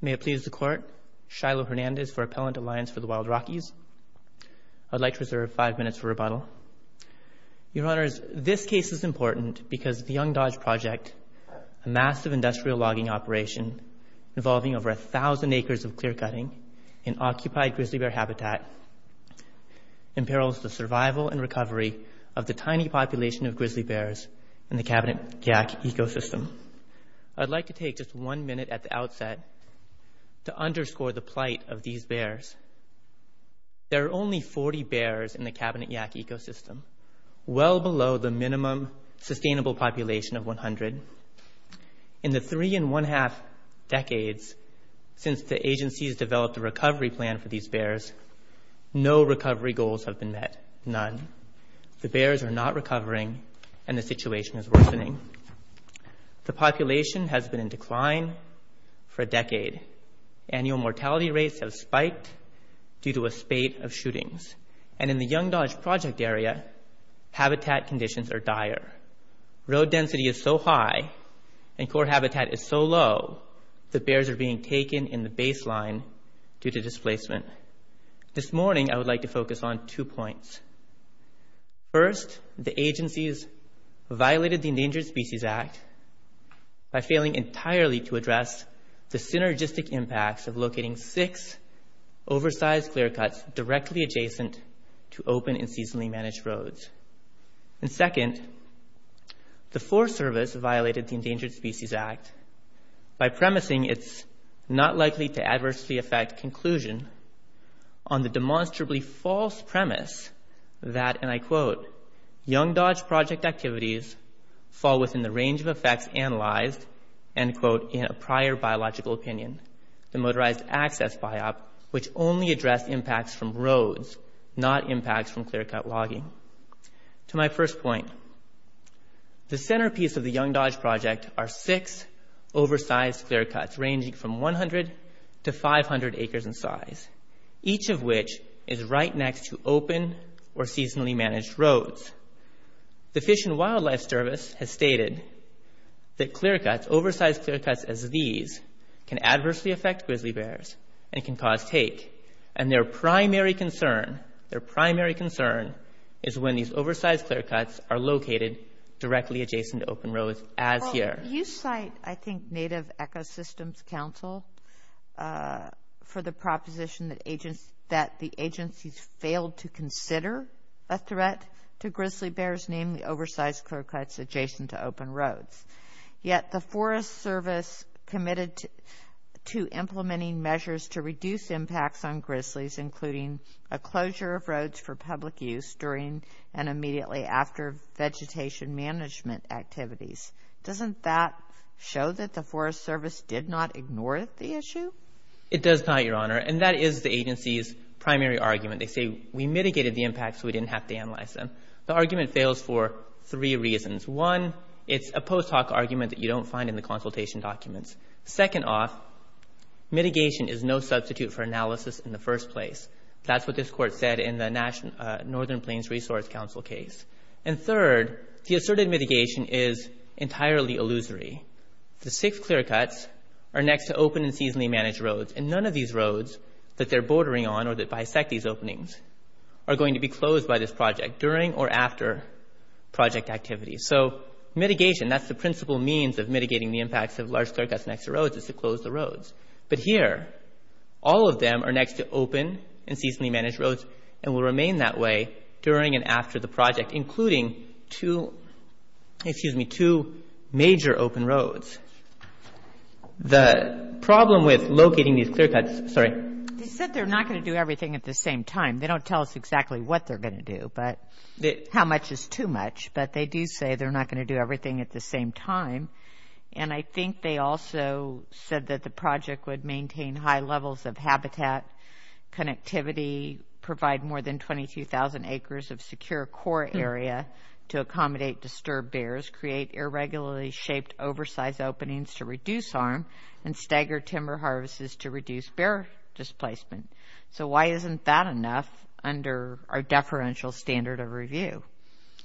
May it please the Court, Shiloh Hernandez for Appellant Alliance for the Wild Rockies. I'd like to reserve five minutes for rebuttal. Your Honors, this case is important because the Young Dodge Project, a massive industrial logging operation involving over 1,000 acres of clear-cutting in occupied grizzly bear habitat, imperils the survival and recovery of the tiny population of grizzly bears in the Cabinet Jack ecosystem. I'd like to take just one minute at the outset to underscore the plight of these bears. There are only 40 bears in the Cabinet Jack ecosystem, well below the minimum sustainable population of 100. In the three and one-half decades since the agencies developed a recovery plan for these bears, no recovery goals have been met, none. The bears are not recovering and the situation is worsening. The population has been in decline for a decade. Annual mortality rates have spiked due to a spate of shootings. And in the Young Dodge Project area, habitat conditions are dire. Road density is so high and core habitat is so low This morning, I would like to focus on two points. First, the agencies violated the Endangered Species Act by failing entirely to address the synergistic impacts of locating six oversized clear-cuts directly adjacent to open and seasonally managed roads. And second, the Forest Service violated the Endangered Species Act by premising it's not likely to adversely affect conclusion on the demonstrably false premise that, and I quote, Young Dodge Project activities fall within the range of effects analyzed, end quote, in a prior biological opinion. The motorized access biop, which only addressed impacts from roads, not impacts from clear-cut logging. To my first point, the centerpiece of the Young Dodge Project are six oversized clear-cuts ranging from 100 to 500 acres in size. Each of which is right next to open or seasonally managed roads. The Fish and Wildlife Service has stated that clear-cuts, oversized clear-cuts as these, can adversely affect grizzly bears and can cause take. And their primary concern, their primary concern, is when these oversized clear-cuts are located directly adjacent to open roads as here. You cite, I think, Native Ecosystems Council for the proposition that the agencies failed to consider a threat to grizzly bears, namely oversized clear-cuts adjacent to open roads. Yet the Forest Service committed to implementing measures to reduce impacts on grizzlies, including a closure of roads for public use during and immediately after vegetation management activities. Doesn't that show that the Forest Service did not ignore the issue? It does not, Your Honor. And that is the agency's primary argument. They say, we mitigated the impacts so we didn't have to analyze them. The argument fails for three reasons. One, it's a post hoc argument that you don't find in the consultation documents. Second off, mitigation is no substitute for analysis in the first place. That's what this Court said in the Northern Plains Resource Council case. And third, the asserted mitigation is entirely illusory. The six clear-cuts are next to open and seasonally managed roads, and none of these roads that they're bordering on or that bisect these openings are going to be closed by this project during or after project activity. So mitigation, that's the principal means of mitigating the impacts of large clear-cuts next to roads is to close the roads. But here, all of them are next to open and seasonally managed roads and will remain that way during and after the project, including two major open roads. The problem with locating these clear-cuts – sorry. They said they're not going to do everything at the same time. They don't tell us exactly what they're going to do, how much is too much, but they do say they're not going to do everything at the same time. And I think they also said that the project would maintain high levels of habitat connectivity, provide more than 22,000 acres of secure core area to accommodate disturbed bears, create irregularly shaped oversize openings to reduce harm, and stagger timber harvests to reduce bear displacement. So why isn't that enough under our deferential standard of review?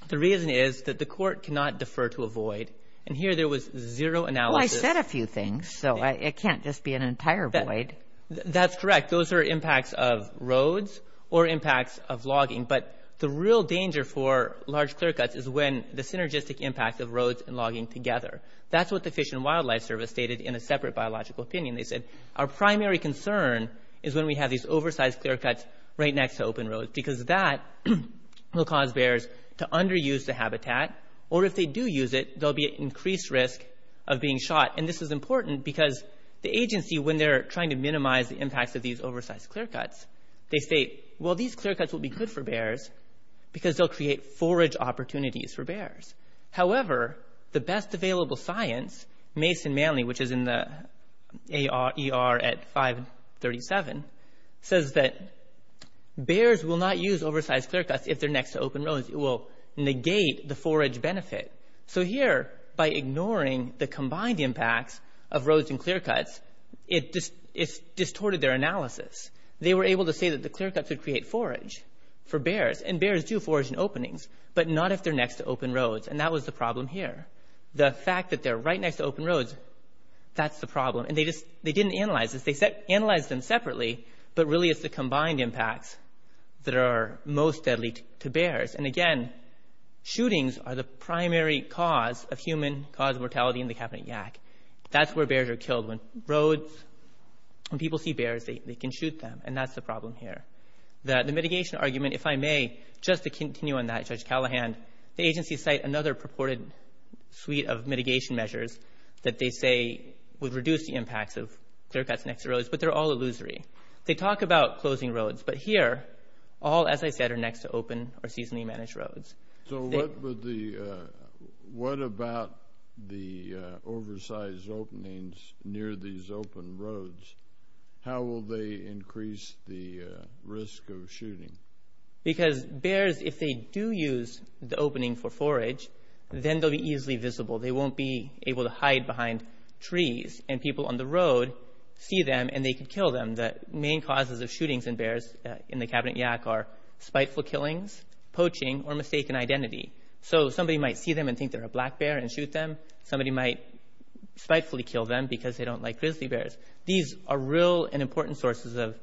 The reason is that the Court cannot defer to a void. And here there was zero analysis. Well, I said a few things, so it can't just be an entire void. That's correct. Those are impacts of roads or impacts of logging. But the real danger for large clear-cuts is when the synergistic impact of roads and logging together. That's what the Fish and Wildlife Service stated in a separate biological opinion. They said our primary concern is when we have these oversized clear-cuts right next to open roads because that will cause bears to underuse the habitat, or if they do use it, there will be an increased risk of being shot. And this is important because the agency, when they're trying to minimize the impacts of these oversized clear-cuts, they say, well, these clear-cuts will be good for bears because they'll create forage opportunities for bears. However, the best available science, Mason Manley, which is in the ER at 537, says that bears will not use oversized clear-cuts if they're next to open roads. It will negate the forage benefit. So here, by ignoring the combined impacts of roads and clear-cuts, it distorted their analysis. They were able to say that the clear-cuts would create forage for bears, and bears do forage in openings, but not if they're next to open roads. And that was the problem here. The fact that they're right next to open roads, that's the problem. And they didn't analyze this. They analyzed them separately, but really it's the combined impacts that are most deadly to bears. And again, shootings are the primary cause of human-caused mortality in the Cabinet Yak. That's where bears are killed. When roads, when people see bears, they can shoot them, and that's the problem here. The mitigation argument, if I may, just to continue on that, Judge Callahan, the agency cite another purported suite of mitigation measures that they say would reduce the impacts of clear-cuts next to roads, but they're all illusory. They talk about closing roads, but here all, as I said, are next to open or seasonally managed roads. So what about the oversized openings near these open roads? How will they increase the risk of shooting? Because bears, if they do use the opening for forage, then they'll be easily visible. They won't be able to hide behind trees, and people on the road see them, and they can kill them. The main causes of shootings in bears in the Cabinet Yak are spiteful killings, poaching, or mistaken identity. So somebody might see them and think they're a black bear and shoot them. Somebody might spitefully kill them because they don't like grizzly bears. These are real and important sources of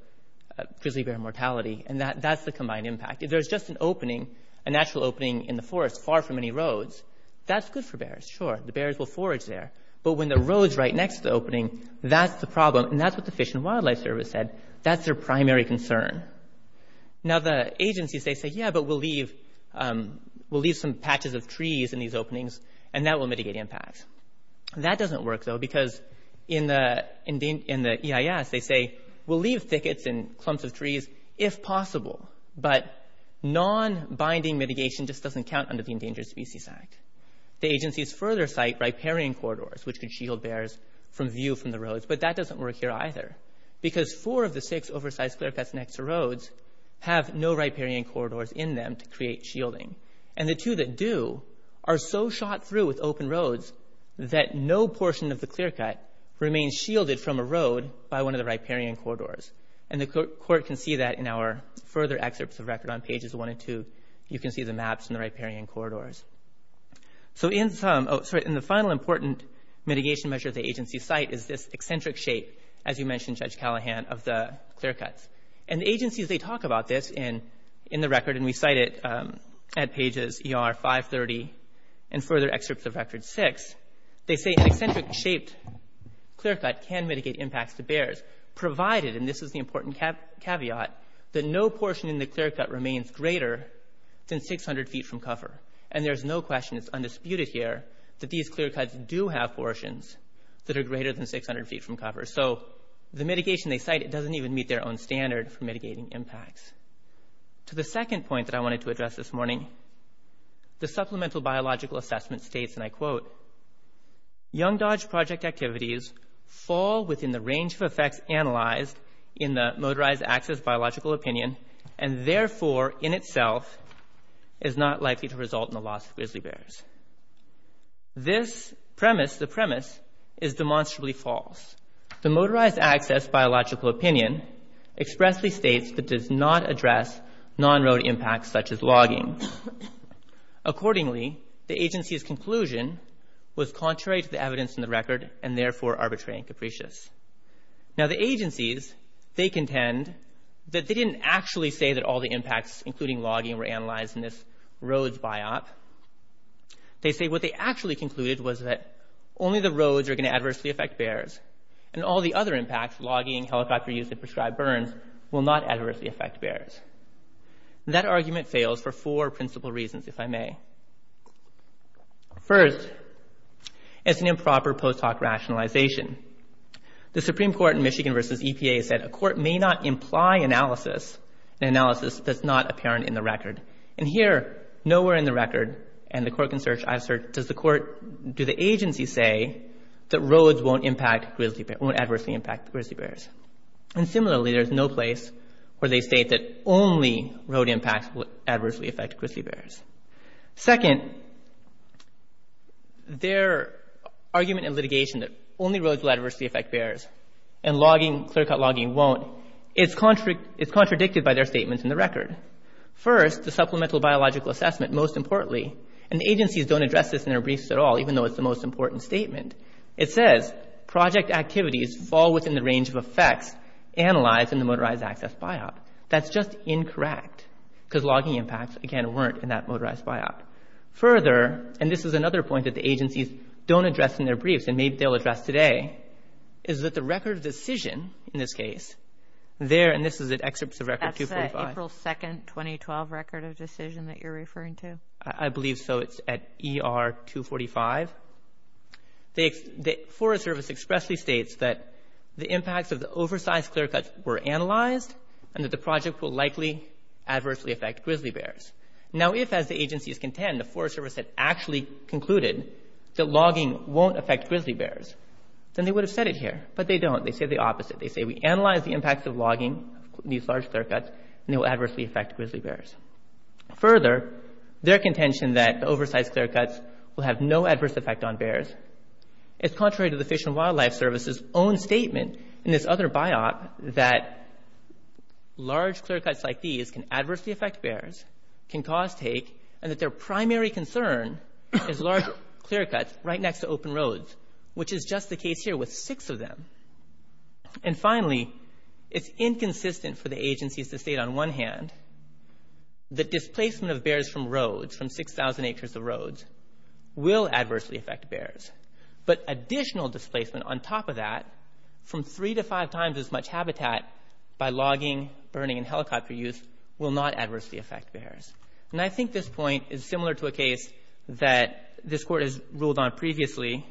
grizzly bear mortality, and that's the combined impact. If there's just an opening, a natural opening in the forest far from any roads, that's good for bears, sure. The bears will forage there. But when the road's right next to the opening, that's the problem, and that's what the Fish and Wildlife Service said. That's their primary concern. Now the agencies, they say, yeah, but we'll leave some patches of trees in these openings, and that will mitigate impacts. That doesn't work, though, because in the EIS, they say, we'll leave thickets and clumps of trees if possible, but non-binding mitigation just doesn't count under the Endangered Species Act. The agencies further cite riparian corridors, which could shield bears from view from the roads, but that doesn't work here either because four of the six oversized clearcuts next to roads have no riparian corridors in them to create shielding. And the two that do are so shot through with open roads that no portion of the clearcut remains shielded from a road by one of the riparian corridors. And the court can see that in our further excerpts of record on pages 1 and 2. You can see the maps and the riparian corridors. So in the final important mitigation measure the agencies cite is this eccentric shape, as you mentioned, Judge Callahan, of the clearcuts. And the agencies, they talk about this in the record, and we cite it at pages ER 530 and further excerpts of record 6. They say an eccentric-shaped clearcut can mitigate impacts to bears provided, and this is the important caveat, that no portion in the clearcut remains greater than 600 feet from cover. And there's no question, it's undisputed here, that these clearcuts do have portions that are greater than 600 feet from cover. So the mitigation they cite, it doesn't even meet their own standard for mitigating impacts. To the second point that I wanted to address this morning, the supplemental biological assessment states, and I quote, Young Dodge project activities fall within the range of effects analyzed in the motorized access biological opinion, and therefore in itself is not likely to result in the loss of grizzly bears. This premise, the premise, is demonstrably false. The motorized access biological opinion expressly states that it does not address non-road impacts such as logging. Accordingly, the agency's conclusion was contrary to the evidence in the record and therefore arbitrary and capricious. Now the agencies, they contend that they didn't actually say that all the impacts, including logging, were analyzed in this roads biop. They say what they actually concluded was that only the roads are going to adversely affect bears, and all the other impacts, logging, helicopter use, and prescribed burns, will not adversely affect bears. That argument fails for four principal reasons, if I may. First, it's an improper post hoc rationalization. The Supreme Court in Michigan versus EPA said a court may not imply analysis, an analysis that's not apparent in the record. And here, nowhere in the record, and the court can search, I've searched, does the court, do the agency say that roads won't impact grizzly bears, won't adversely impact grizzly bears? And similarly, there's no place where they state that only road impacts will adversely affect grizzly bears. Second, their argument in litigation that only roads will adversely affect bears and logging, clear-cut logging, won't, it's contradicted by their statements in the record. First, the supplemental biological assessment, most importantly, and the agencies don't address this in their briefs at all, even though it's the most important statement, it says project activities fall within the range of effects analyzed in the motorized access biop. That's just incorrect because logging impacts, again, weren't in that motorized biop. Further, and this is another point that the agencies don't address in their briefs and maybe they'll address today, is that the record of decision in this case, there, and this is an excerpt of record 245. That's the April 2, 2012 record of decision that you're referring to? I believe so. It's at ER 245. The Forest Service expressly states that the impacts of the oversized clear-cuts were analyzed and that the project will likely adversely affect grizzly bears. Now, if, as the agencies contend, the Forest Service had actually concluded that logging won't affect grizzly bears, then they would have said it here. But they don't. They say the opposite. They say we analyze the impacts of logging, these large clear-cuts, and they will adversely affect grizzly bears. Further, their contention that the oversized clear-cuts will have no adverse effect on bears is contrary to the Fish and Wildlife Service's own statement in this other biop that large clear-cuts like these can adversely affect bears, can cause take, and that their primary concern is large clear-cuts right next to open roads, which is just the case here with six of them. And finally, it's inconsistent for the agencies to state on one hand that displacement of bears from roads, from 6,000 acres of roads, will adversely affect bears. But additional displacement on top of that, from three to five times as much habitat by logging, burning, and helicopter use, will not adversely affect bears. And I think this point is similar to a case that this Court has ruled on previously,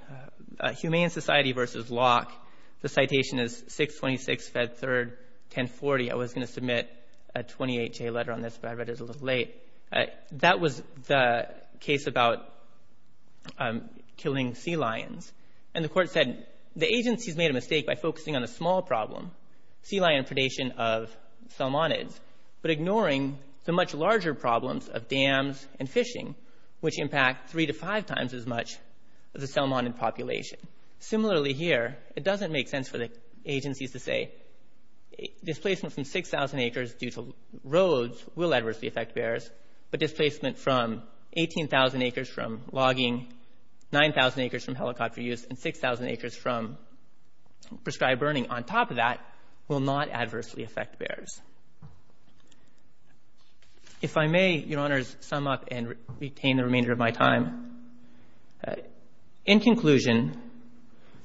Humane Society versus Locke. The citation is 626, Fed 3rd, 1040. I was going to submit a 28-J letter on this, but I read it a little late. That was the case about killing sea lions. And the Court said, the agencies made a mistake by focusing on a small problem, sea lion predation of salmonids, but ignoring the much larger problems of dams and fishing, which impact three to five times as much of the salmonid population. Similarly here, it doesn't make sense for the agencies to say, displacement from 6,000 acres due to roads will adversely affect bears, but displacement from 18,000 acres from logging, 9,000 acres from helicopter use, and 6,000 acres from prescribed burning on top of that will not adversely affect bears. If I may, Your Honors, sum up and retain the remainder of my time. In conclusion,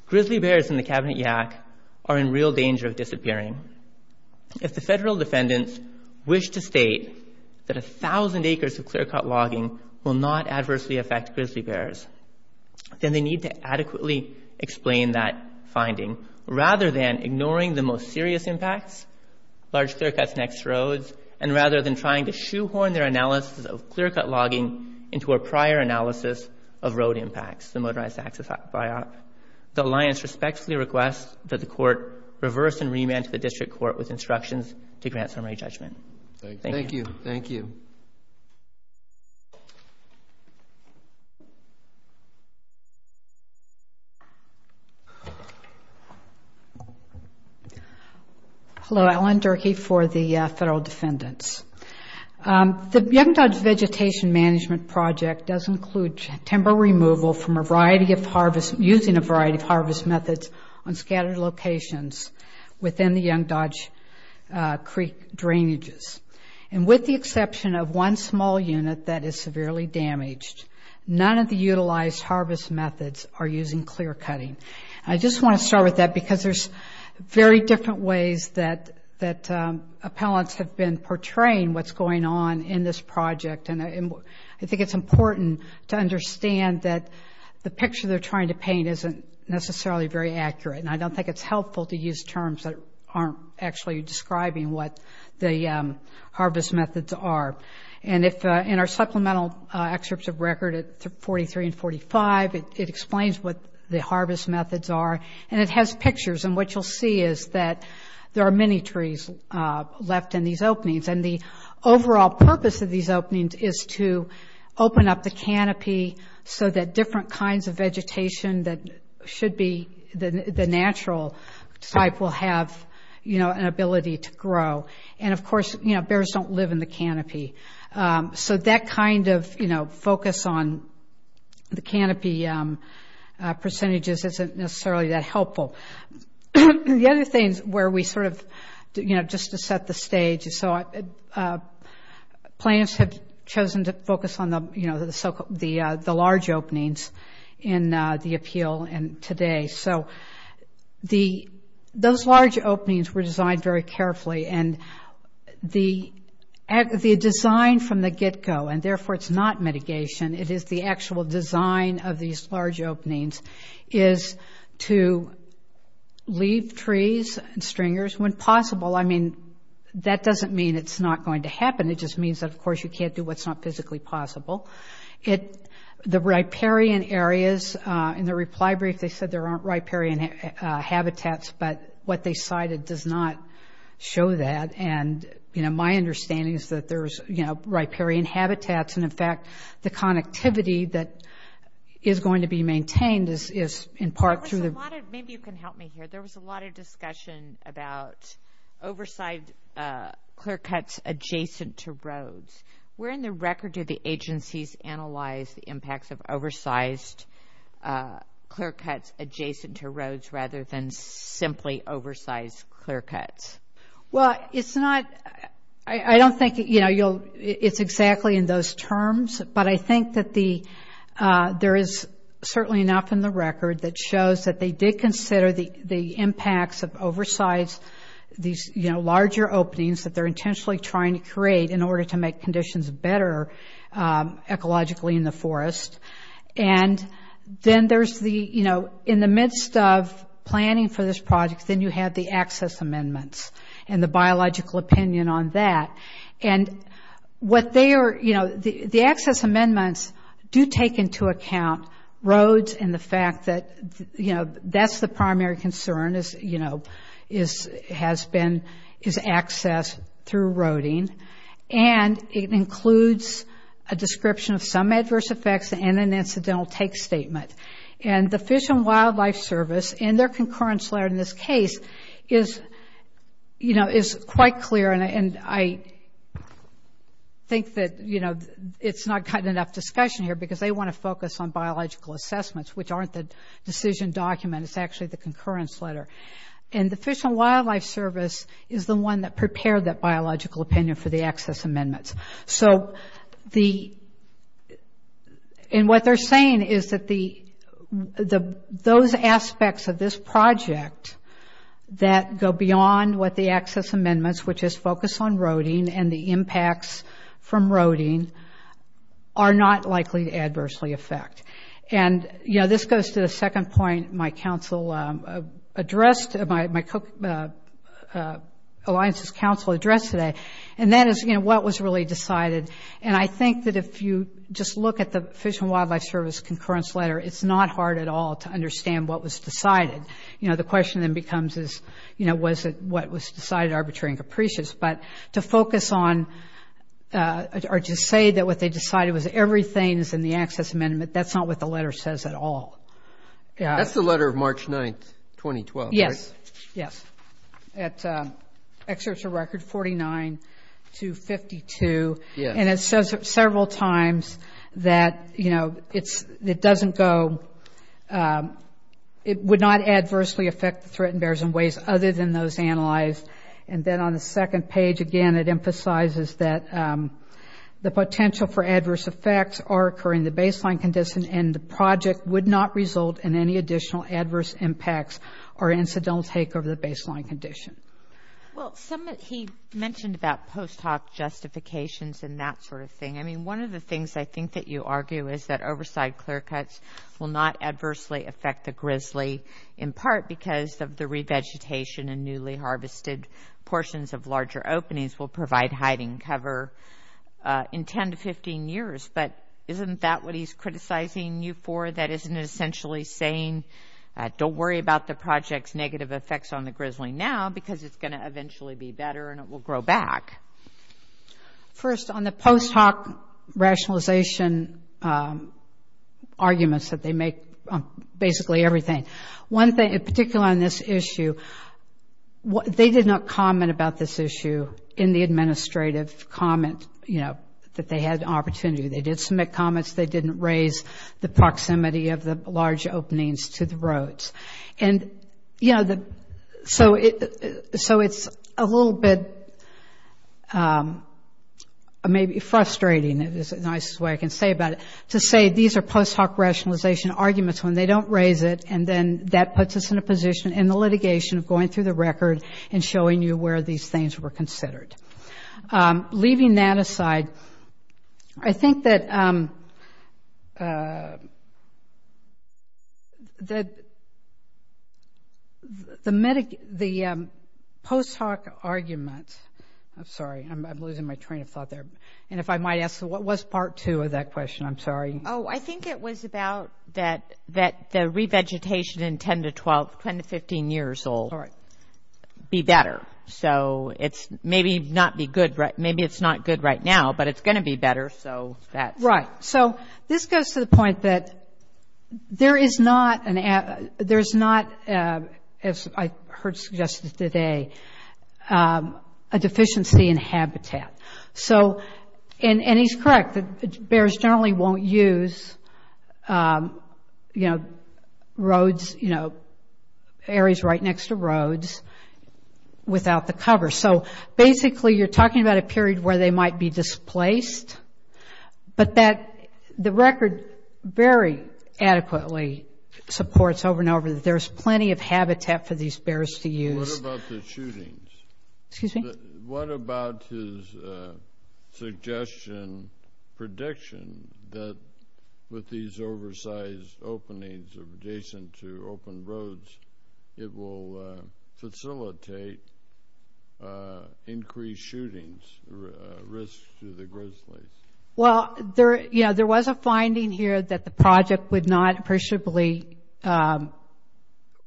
grizzly bears in the Cabinet YAC are in real danger of disappearing. If the federal defendants wish to state that 1,000 acres of clear-cut logging will not adversely affect grizzly bears, then they need to adequately explain that finding, rather than ignoring the most serious impacts, large clear-cuts next to roads, and rather than trying to shoehorn their analysis of clear-cut logging into a prior analysis of road impacts, the Motorized Access Biop. The Alliance respectfully requests that the Court reverse and remand to the District Court with instructions to grant summary judgment. Thank you. Hello, Alan Durkee for the federal defendants. The Young Dodge Vegetation Management Project does include timber removal from a variety of harvest, using a variety of harvest methods on scattered locations within the Young Dodge Creek drainages. And with the exception of one small unit that is severely damaged, none of the utilized harvest methods are using clear-cutting. I just want to start with that because there's very different ways that appellants have been portraying what's going on in this project. And I think it's important to understand that the picture they're trying to paint isn't necessarily very accurate, and I don't think it's helpful to use terms that aren't actually describing what the harvest methods are. And in our supplemental excerpts of record at 43 and 45, it explains what the harvest methods are, and it has pictures. And what you'll see is that there are many trees left in these openings. And the overall purpose of these openings is to open up the canopy so that different kinds of vegetation that should be the natural type will have an ability to grow. And, of course, bears don't live in the canopy. So that kind of, you know, focus on the canopy percentages isn't necessarily that helpful. The other things where we sort of, you know, just to set the stage, so plants have chosen to focus on the large openings in the appeal today. So those large openings were designed very carefully, and the design from the get-go, and therefore it's not mitigation, it is the actual design of these large openings, is to leave trees and stringers when possible. I mean, that doesn't mean it's not going to happen. It just means that, of course, you can't do what's not physically possible. The riparian areas, in the reply brief they said there aren't riparian habitats, but what they cited does not show that. And, you know, my understanding is that there's, you know, riparian habitats, and, in fact, the connectivity that is going to be maintained is in part through the— There was a lot of—maybe you can help me here. There was a lot of discussion about oversized clear cuts adjacent to roads. Where in the record do the agencies analyze the impacts of oversized clear cuts adjacent to roads rather than simply oversized clear cuts? Well, it's not—I don't think, you know, it's exactly in those terms, but I think that there is certainly enough in the record that shows that they did consider the impacts of oversized— these, you know, larger openings that they're intentionally trying to create And then there's the, you know, in the midst of planning for this project, then you have the access amendments and the biological opinion on that. And what they are—you know, the access amendments do take into account roads and the fact that, you know, that's the primary concern, you know, is access through roading. And it includes a description of some adverse effects and an incidental take statement. And the Fish and Wildlife Service, in their concurrence letter in this case, is, you know, is quite clear. And I think that, you know, it's not gotten enough discussion here because they want to focus on biological assessments, which aren't the decision document. It's actually the concurrence letter. And the Fish and Wildlife Service is the one that prepared that biological opinion for the access amendments. So the—and what they're saying is that those aspects of this project that go beyond what the access amendments, which is focused on roading and the impacts from roading, are not likely to adversely affect. And, you know, this goes to the second point my council addressed— my alliances council addressed today. And that is, you know, what was really decided. And I think that if you just look at the Fish and Wildlife Service concurrence letter, it's not hard at all to understand what was decided. You know, the question then becomes is, you know, was it what was decided arbitrary and capricious. But to focus on—or to say that what they decided was everything is in the access amendment, that's not what the letter says at all. That's the letter of March 9th, 2012, right? Yes. Yes. It excerpts a record 49 to 52. Yes. And it says several times that, you know, it doesn't go—it would not adversely affect the threatened bears in ways other than those analyzed. And then on the second page, again, it emphasizes that the potential for adverse effects are occurring in the baseline condition and the project would not result in any additional adverse impacts or incidental takeover of the baseline condition. Well, some of—he mentioned about post hoc justifications and that sort of thing. I mean, one of the things I think that you argue is that oversight clear cuts will not adversely affect the grizzly in part because of the revegetation and newly harvested portions of larger openings will provide hiding cover in 10 to 15 years. But isn't that what he's criticizing you for, that isn't essentially saying, don't worry about the project's negative effects on the grizzly now because it's going to eventually be better and it will grow back? First, on the post hoc rationalization arguments that they make on basically everything, one thing in particular on this issue, they did not comment about this issue in the administrative comment, you know, that they had opportunity. They did submit comments. They didn't raise the proximity of the large openings to the roads. And, you know, so it's a little bit maybe frustrating is the nicest way I can say about it, to say these are post hoc rationalization arguments when they don't raise it, and then that puts us in a position in the litigation of going through the record and showing you where these things were considered. Leaving that aside, I think that the post hoc argument—I'm sorry, I'm losing my train of thought there. And if I might ask, what was Part 2 of that question? I'm sorry. Oh, I think it was about that the revegetation in 10 to 12, 10 to 15 years old be better. So maybe it's not good right now, but it's going to be better. Right. So this goes to the point that there is not, as I heard suggested today, a deficiency in habitat. And he's correct. Bears generally won't use, you know, roads, you know, areas right next to roads without the cover. So basically you're talking about a period where they might be displaced, but the record very adequately supports over and over that there's plenty of habitat for these bears to use. What about the shootings? Excuse me? What about his suggestion, prediction, that with these oversized openings adjacent to open roads, it will facilitate increased shootings, risks to the grizzlies? Well, yeah, there was a finding here that the project would not appreciably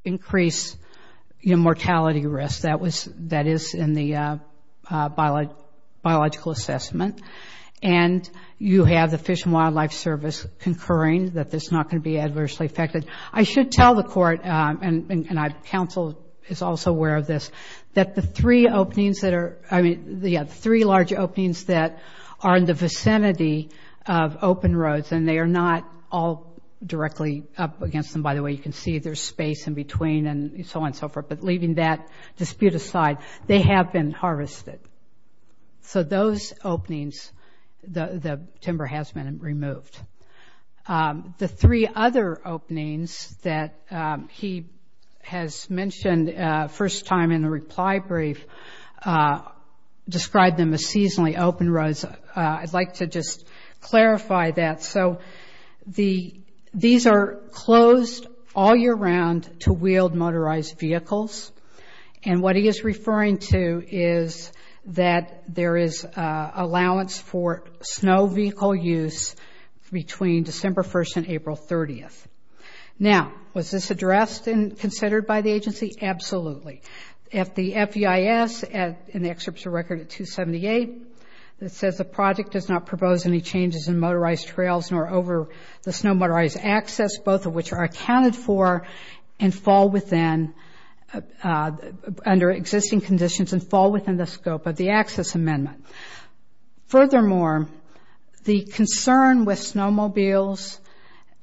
increase mortality risk. That is in the biological assessment. And you have the Fish and Wildlife Service concurring that this is not going to be adversely affected. I should tell the court, and counsel is also aware of this, that the three openings that are – I mean, yeah, the three large openings that are in the vicinity of open roads, and they are not all directly up against them, by the way. You can see there's space in between and so on and so forth. But leaving that dispute aside, they have been harvested. So those openings, the timber has been removed. The three other openings that he has mentioned first time in the reply brief describe them as seasonally open roads. I'd like to just clarify that. So these are closed all year round to wheeled motorized vehicles. And what he is referring to is that there is allowance for snow vehicle use between December 1st and April 30th. Now, was this addressed and considered by the agency? Absolutely. At the FEIS, and the excerpt is a record at 278, it says the project does not propose any changes in motorized trails nor over the snow motorized access, both of which are accounted for and fall within – under existing conditions and fall within the scope of the access amendment. Furthermore, the concern with snowmobiles,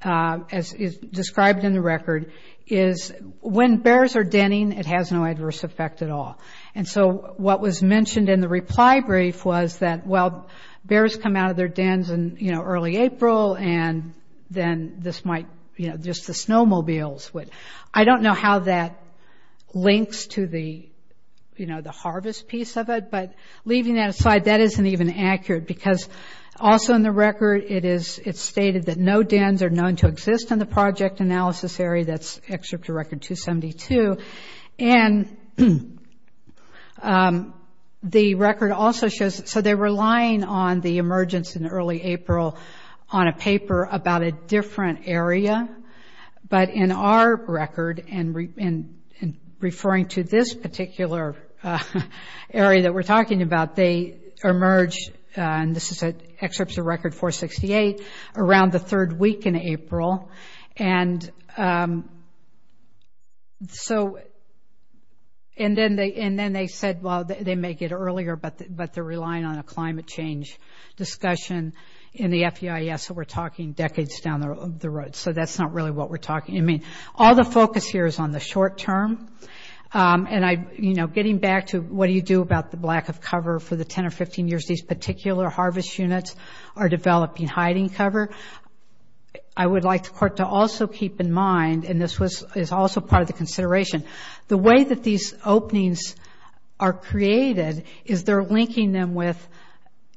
as is described in the record, is when bears are denning, it has no adverse effect at all. And so what was mentioned in the reply brief was that, well, bears come out of their dens in, you know, early April and then this might – you know, just the snowmobiles would – I don't know how that links to the, you know, the harvest piece of it. But leaving that aside, that isn't even accurate because also in the record, it is – it's stated that no dens are known to exist in the project analysis area. That's excerpt to record 272. And the record also shows – so they're relying on the emergence in early April on a paper about a different area. But in our record, and referring to this particular area that we're talking about, they emerge – and this is an excerpt to record 468 – around the third week in April. And so – and then they said, well, they may get earlier, but they're relying on a climate change discussion in the FEIS that we're talking decades down the road. So that's not really what we're talking – I mean, all the focus here is on the short term. And I – you know, getting back to what do you do about the lack of cover for the 10 or 15 years these particular harvest units are developing hiding cover, I would like the court to also keep in mind – and this was – is also part of the consideration – the way that these openings are created is they're linking them with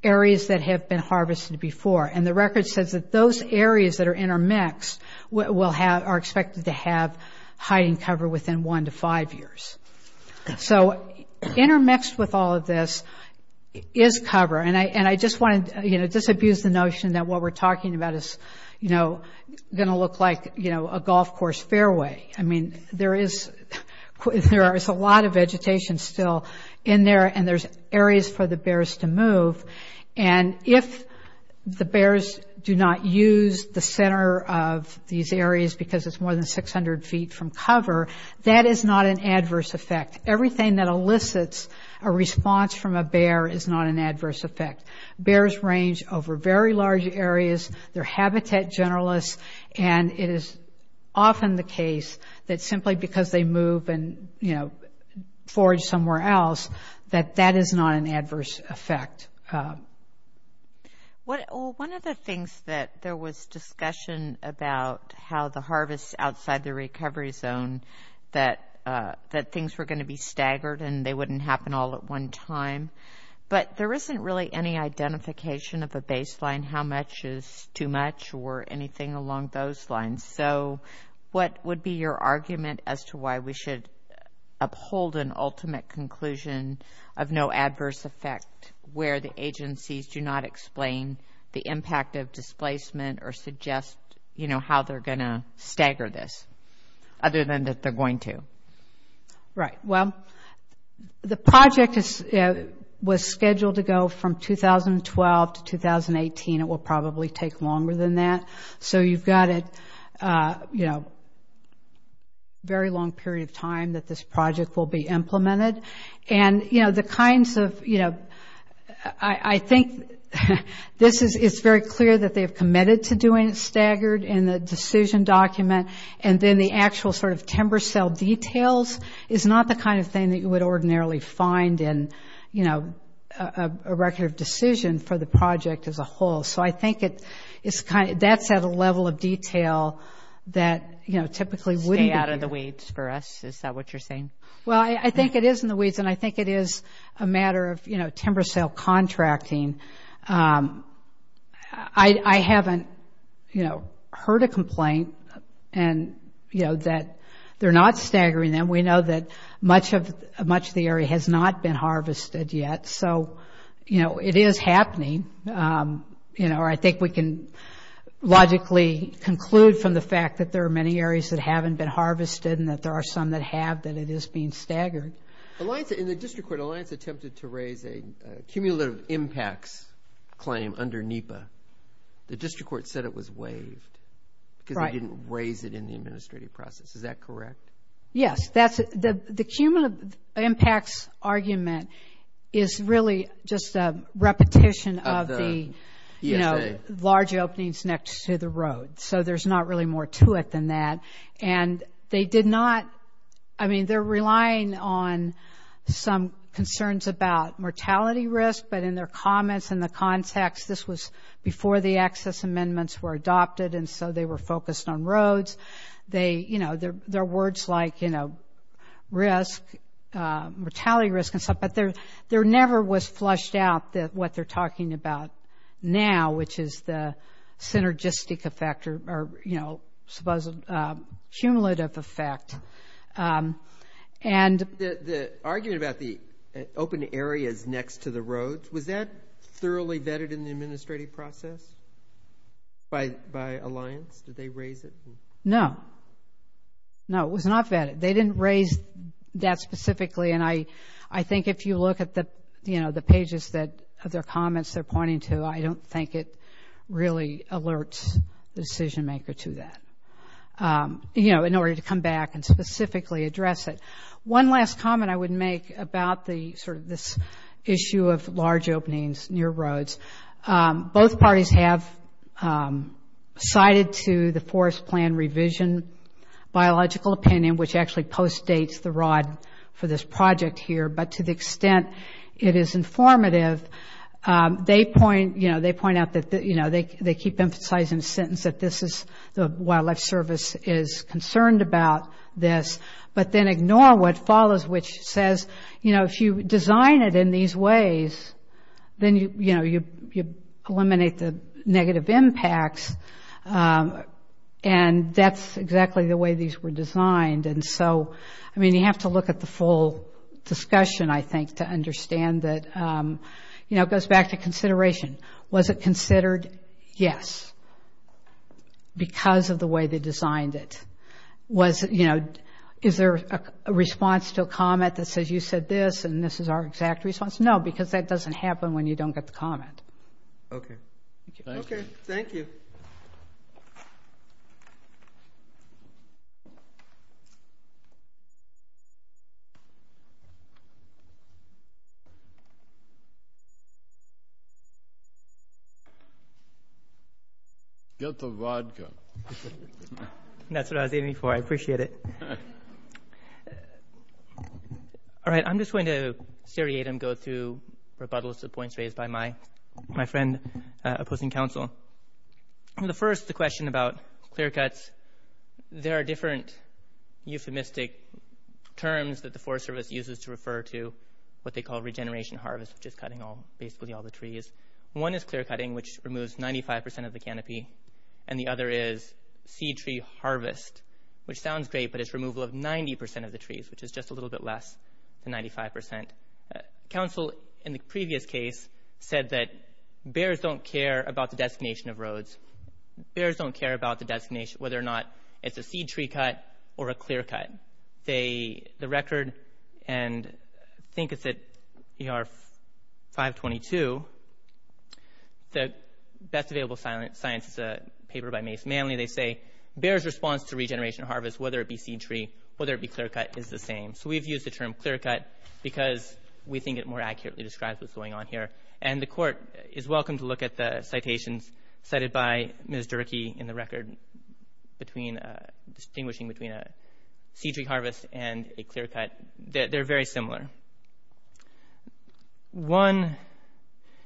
areas that have been harvested before. And the record says that those areas that are intermixed will have – So intermixed with all of this is cover. And I just want to, you know, disabuse the notion that what we're talking about is, you know, going to look like, you know, a golf course fairway. I mean, there is – there is a lot of vegetation still in there, and there's areas for the bears to move. And if the bears do not use the center of these areas because it's more than 600 feet from cover, that is not an adverse effect. Everything that elicits a response from a bear is not an adverse effect. Bears range over very large areas. They're habitat generalists. And it is often the case that simply because they move and, you know, forage somewhere else, that that is not an adverse effect. Well, one of the things that there was discussion about how the harvest outside the recovery zone, that things were going to be staggered and they wouldn't happen all at one time. But there isn't really any identification of a baseline, how much is too much, or anything along those lines. So what would be your argument as to why we should uphold an ultimate conclusion of no adverse effect where the agencies do not explain the impact of displacement or suggest, you know, how they're going to stagger this other than that they're going to? Right. Well, the project was scheduled to go from 2012 to 2018. It will probably take longer than that. So you've got a, you know, very long period of time that this project will be implemented. And, you know, the kinds of, you know, I think this is very clear that they have committed to doing it staggered in the decision document. And then the actual sort of timber cell details is not the kind of thing that you would ordinarily find in, you know, a record of decision for the project as a whole. So I think that's at a level of detail that, you know, typically wouldn't be. Stay out of the weeds for us. Is that what you're saying? Well, I think it is in the weeds and I think it is a matter of, you know, timber cell contracting. I haven't, you know, heard a complaint and, you know, that they're not staggering them. We know that much of the area has not been harvested yet. So, you know, it is happening, you know, or I think we can logically conclude from the fact that there are many areas that haven't been harvested and that there are some that have that it is being staggered. In the district court, Alliance attempted to raise a cumulative impacts claim under NEPA. The district court said it was waived because they didn't raise it in the administrative process. Is that correct? Yes. The cumulative impacts argument is really just a repetition of the, you know, large openings next to the road. So there's not really more to it than that. And they did not, I mean, they're relying on some concerns about mortality risk, but in their comments in the context, this was before the access amendments were adopted and so they were focused on roads. They, you know, their words like, you know, risk, mortality risk and stuff, but there never was flushed out what they're talking about now, which is the synergistic effect or, you know, cumulative effect. And the argument about the open areas next to the roads, was that thoroughly vetted in the administrative process by Alliance? Did they raise it? No. No, it was not vetted. They didn't raise that specifically, and I think if you look at the, you know, the pages of their comments they're pointing to, I don't think it really alerts the decision maker to that, you know, in order to come back and specifically address it. One last comment I would make about the sort of this issue of large openings near roads. Both parties have cited to the forest plan revision biological opinion, which actually postdates the ROD for this project here, but to the extent it is informative. They point, you know, they point out that, you know, they keep emphasizing the sentence that this is the Wildlife Service is concerned about this, but then ignore what follows, which says, you know, if you design it in these ways, then, you know, you eliminate the negative impacts, and that's exactly the way these were designed. And so, I mean, you have to look at the full discussion, I think, to understand that, you know, it goes back to consideration. Was it considered? Yes, because of the way they designed it. Was, you know, is there a response to a comment that says you said this, and this is our exact response? No, because that doesn't happen when you don't get the comment. Okay. Thank you. Thank you. Get the vodka. That's what I was waiting for. I appreciate it. All right, I'm just going to seriate and go through rebuttals to the points raised by my friend opposing counsel. The first, the question about clear cuts, there are different euphemistic terms that the Forest Service uses to refer to what they call regeneration harvest, which is cutting basically all the trees. One is clear cutting, which removes 95% of the canopy, and the other is seed tree harvest, which sounds great, but it's removal of 90% of the trees, which is just a little bit less than 95%. Counsel, in the previous case, said that bears don't care about the designation of roads. Bears don't care about the designation, whether or not it's a seed tree cut or a clear cut. The record, and I think it's at ER 522, the best available science is a paper by Mace Manley. They say bears' response to regeneration harvest, whether it be seed tree, whether it be clear cut, is the same. So we've used the term clear cut because we think it more accurately describes what's going on here, and the court is welcome to look at the citations cited by Ms. Durkee in the record between distinguishing between a seed tree harvest and a clear cut. They're very similar. One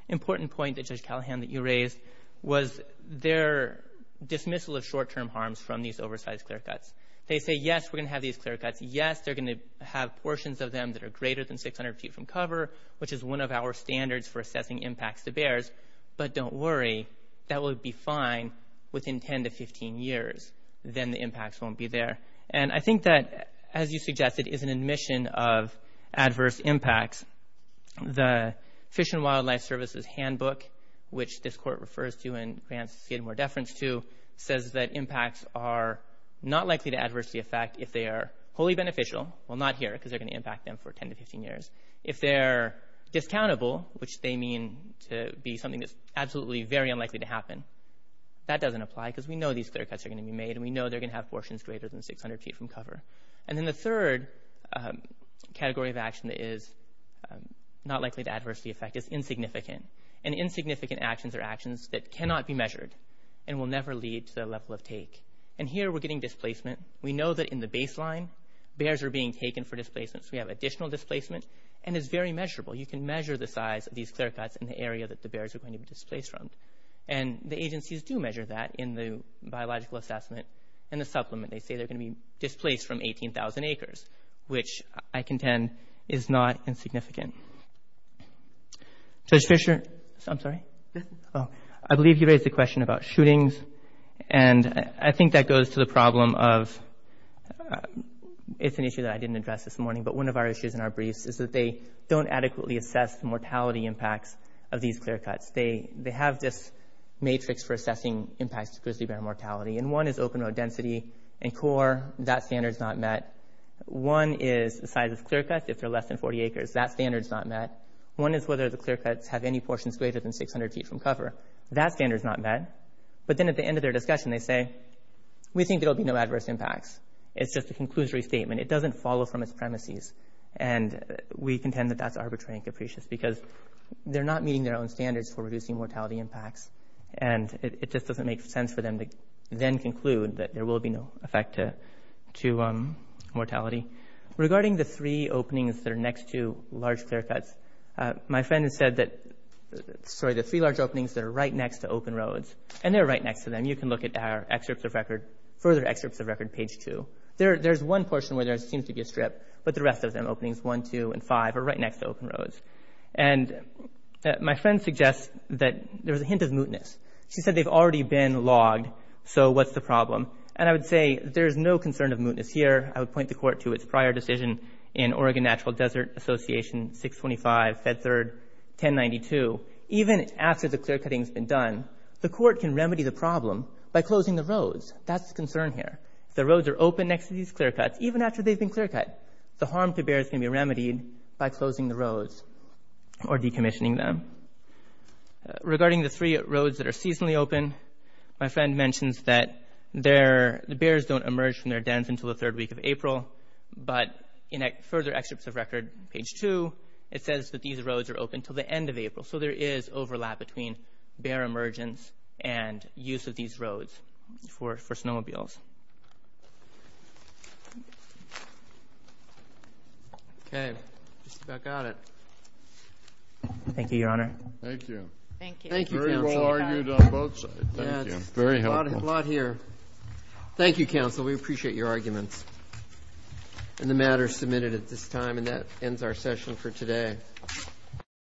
important point that, Judge Callahan, that you raised was their dismissal of short-term harms from these oversized clear cuts. They say, yes, we're going to have these clear cuts. Yes, they're going to have portions of them that are greater than 600 feet from cover, which is one of our standards for assessing impacts to bears, but don't worry, that will be fine within 10 to 15 years. Then the impacts won't be there. I think that, as you suggested, is an admission of adverse impacts. The Fish and Wildlife Service's handbook, which this court refers to and grants more deference to, says that impacts are not likely to adversely affect if they are wholly beneficial. Well, not here because they're going to impact them for 10 to 15 years. If they're discountable, which they mean to be something that's absolutely very unlikely to happen, that doesn't apply because we know these clear cuts are going to be made and we know they're going to have portions greater than 600 feet from cover. Then the third category of action that is not likely to adversely affect is insignificant. Insignificant actions are actions that cannot be measured and will never lead to the level of take. Here we're getting displacement. We know that in the baseline bears are being taken for displacement, so we have additional displacement, and it's very measurable. You can measure the size of these clear cuts in the area that the bears are going to be displaced from. The agencies do measure that in the biological assessment and the supplement. They say they're going to be displaced from 18,000 acres, which I contend is not insignificant. I believe you raised the question about shootings. I think that goes to the problem of—it's an issue that I didn't address this morning, but one of our issues in our briefs is that they don't adequately assess the mortality impacts of these clear cuts. They have this matrix for assessing impacts to grizzly bear mortality, and one is open road density and core. That standard's not met. One is the size of clear cuts. If they're less than 40 acres, that standard's not met. One is whether the clear cuts have any portions greater than 600 feet from cover. That standard's not met, but then at the end of their discussion they say, we think there will be no adverse impacts. It's just a conclusory statement. It doesn't follow from its premises, and we contend that that's arbitrary and capricious because they're not meeting their own standards for reducing mortality impacts, and it just doesn't make sense for them to then conclude that there will be no effect to mortality. Regarding the three openings that are next to large clear cuts, my friend has said that—sorry, the three large openings that are right next to open roads, and they're right next to them. You can look at our further excerpts of record, page 2. There's one portion where there seems to be a strip, but the rest of them, openings 1, 2, and 5 are right next to open roads. And my friend suggests that there's a hint of mootness. She said they've already been logged, so what's the problem? And I would say there's no concern of mootness here. I would point the court to its prior decision in Oregon Natural Desert Association, 625 Fed Third 1092. Even after the clear cutting's been done, the court can remedy the problem by closing the roads. That's the concern here. If the roads are open next to these clear cuts, even after they've been clear cut, the harm to bears can be remedied by closing the roads or decommissioning them. Regarding the three roads that are seasonally open, my friend mentions that the bears don't emerge from their dens until the third week of April. But in further excerpts of record, page 2, it says that these roads are open until the end of April. So there is overlap between bear emergence and use of these roads for snowmobiles. Okay. Just about got it. Thank you, Your Honor. Thank you. Thank you, counsel. Very well argued on both sides. Thank you. Very helpful. A lot here. Thank you, counsel. We appreciate your arguments. And the matter's submitted at this time, and that ends our session for today.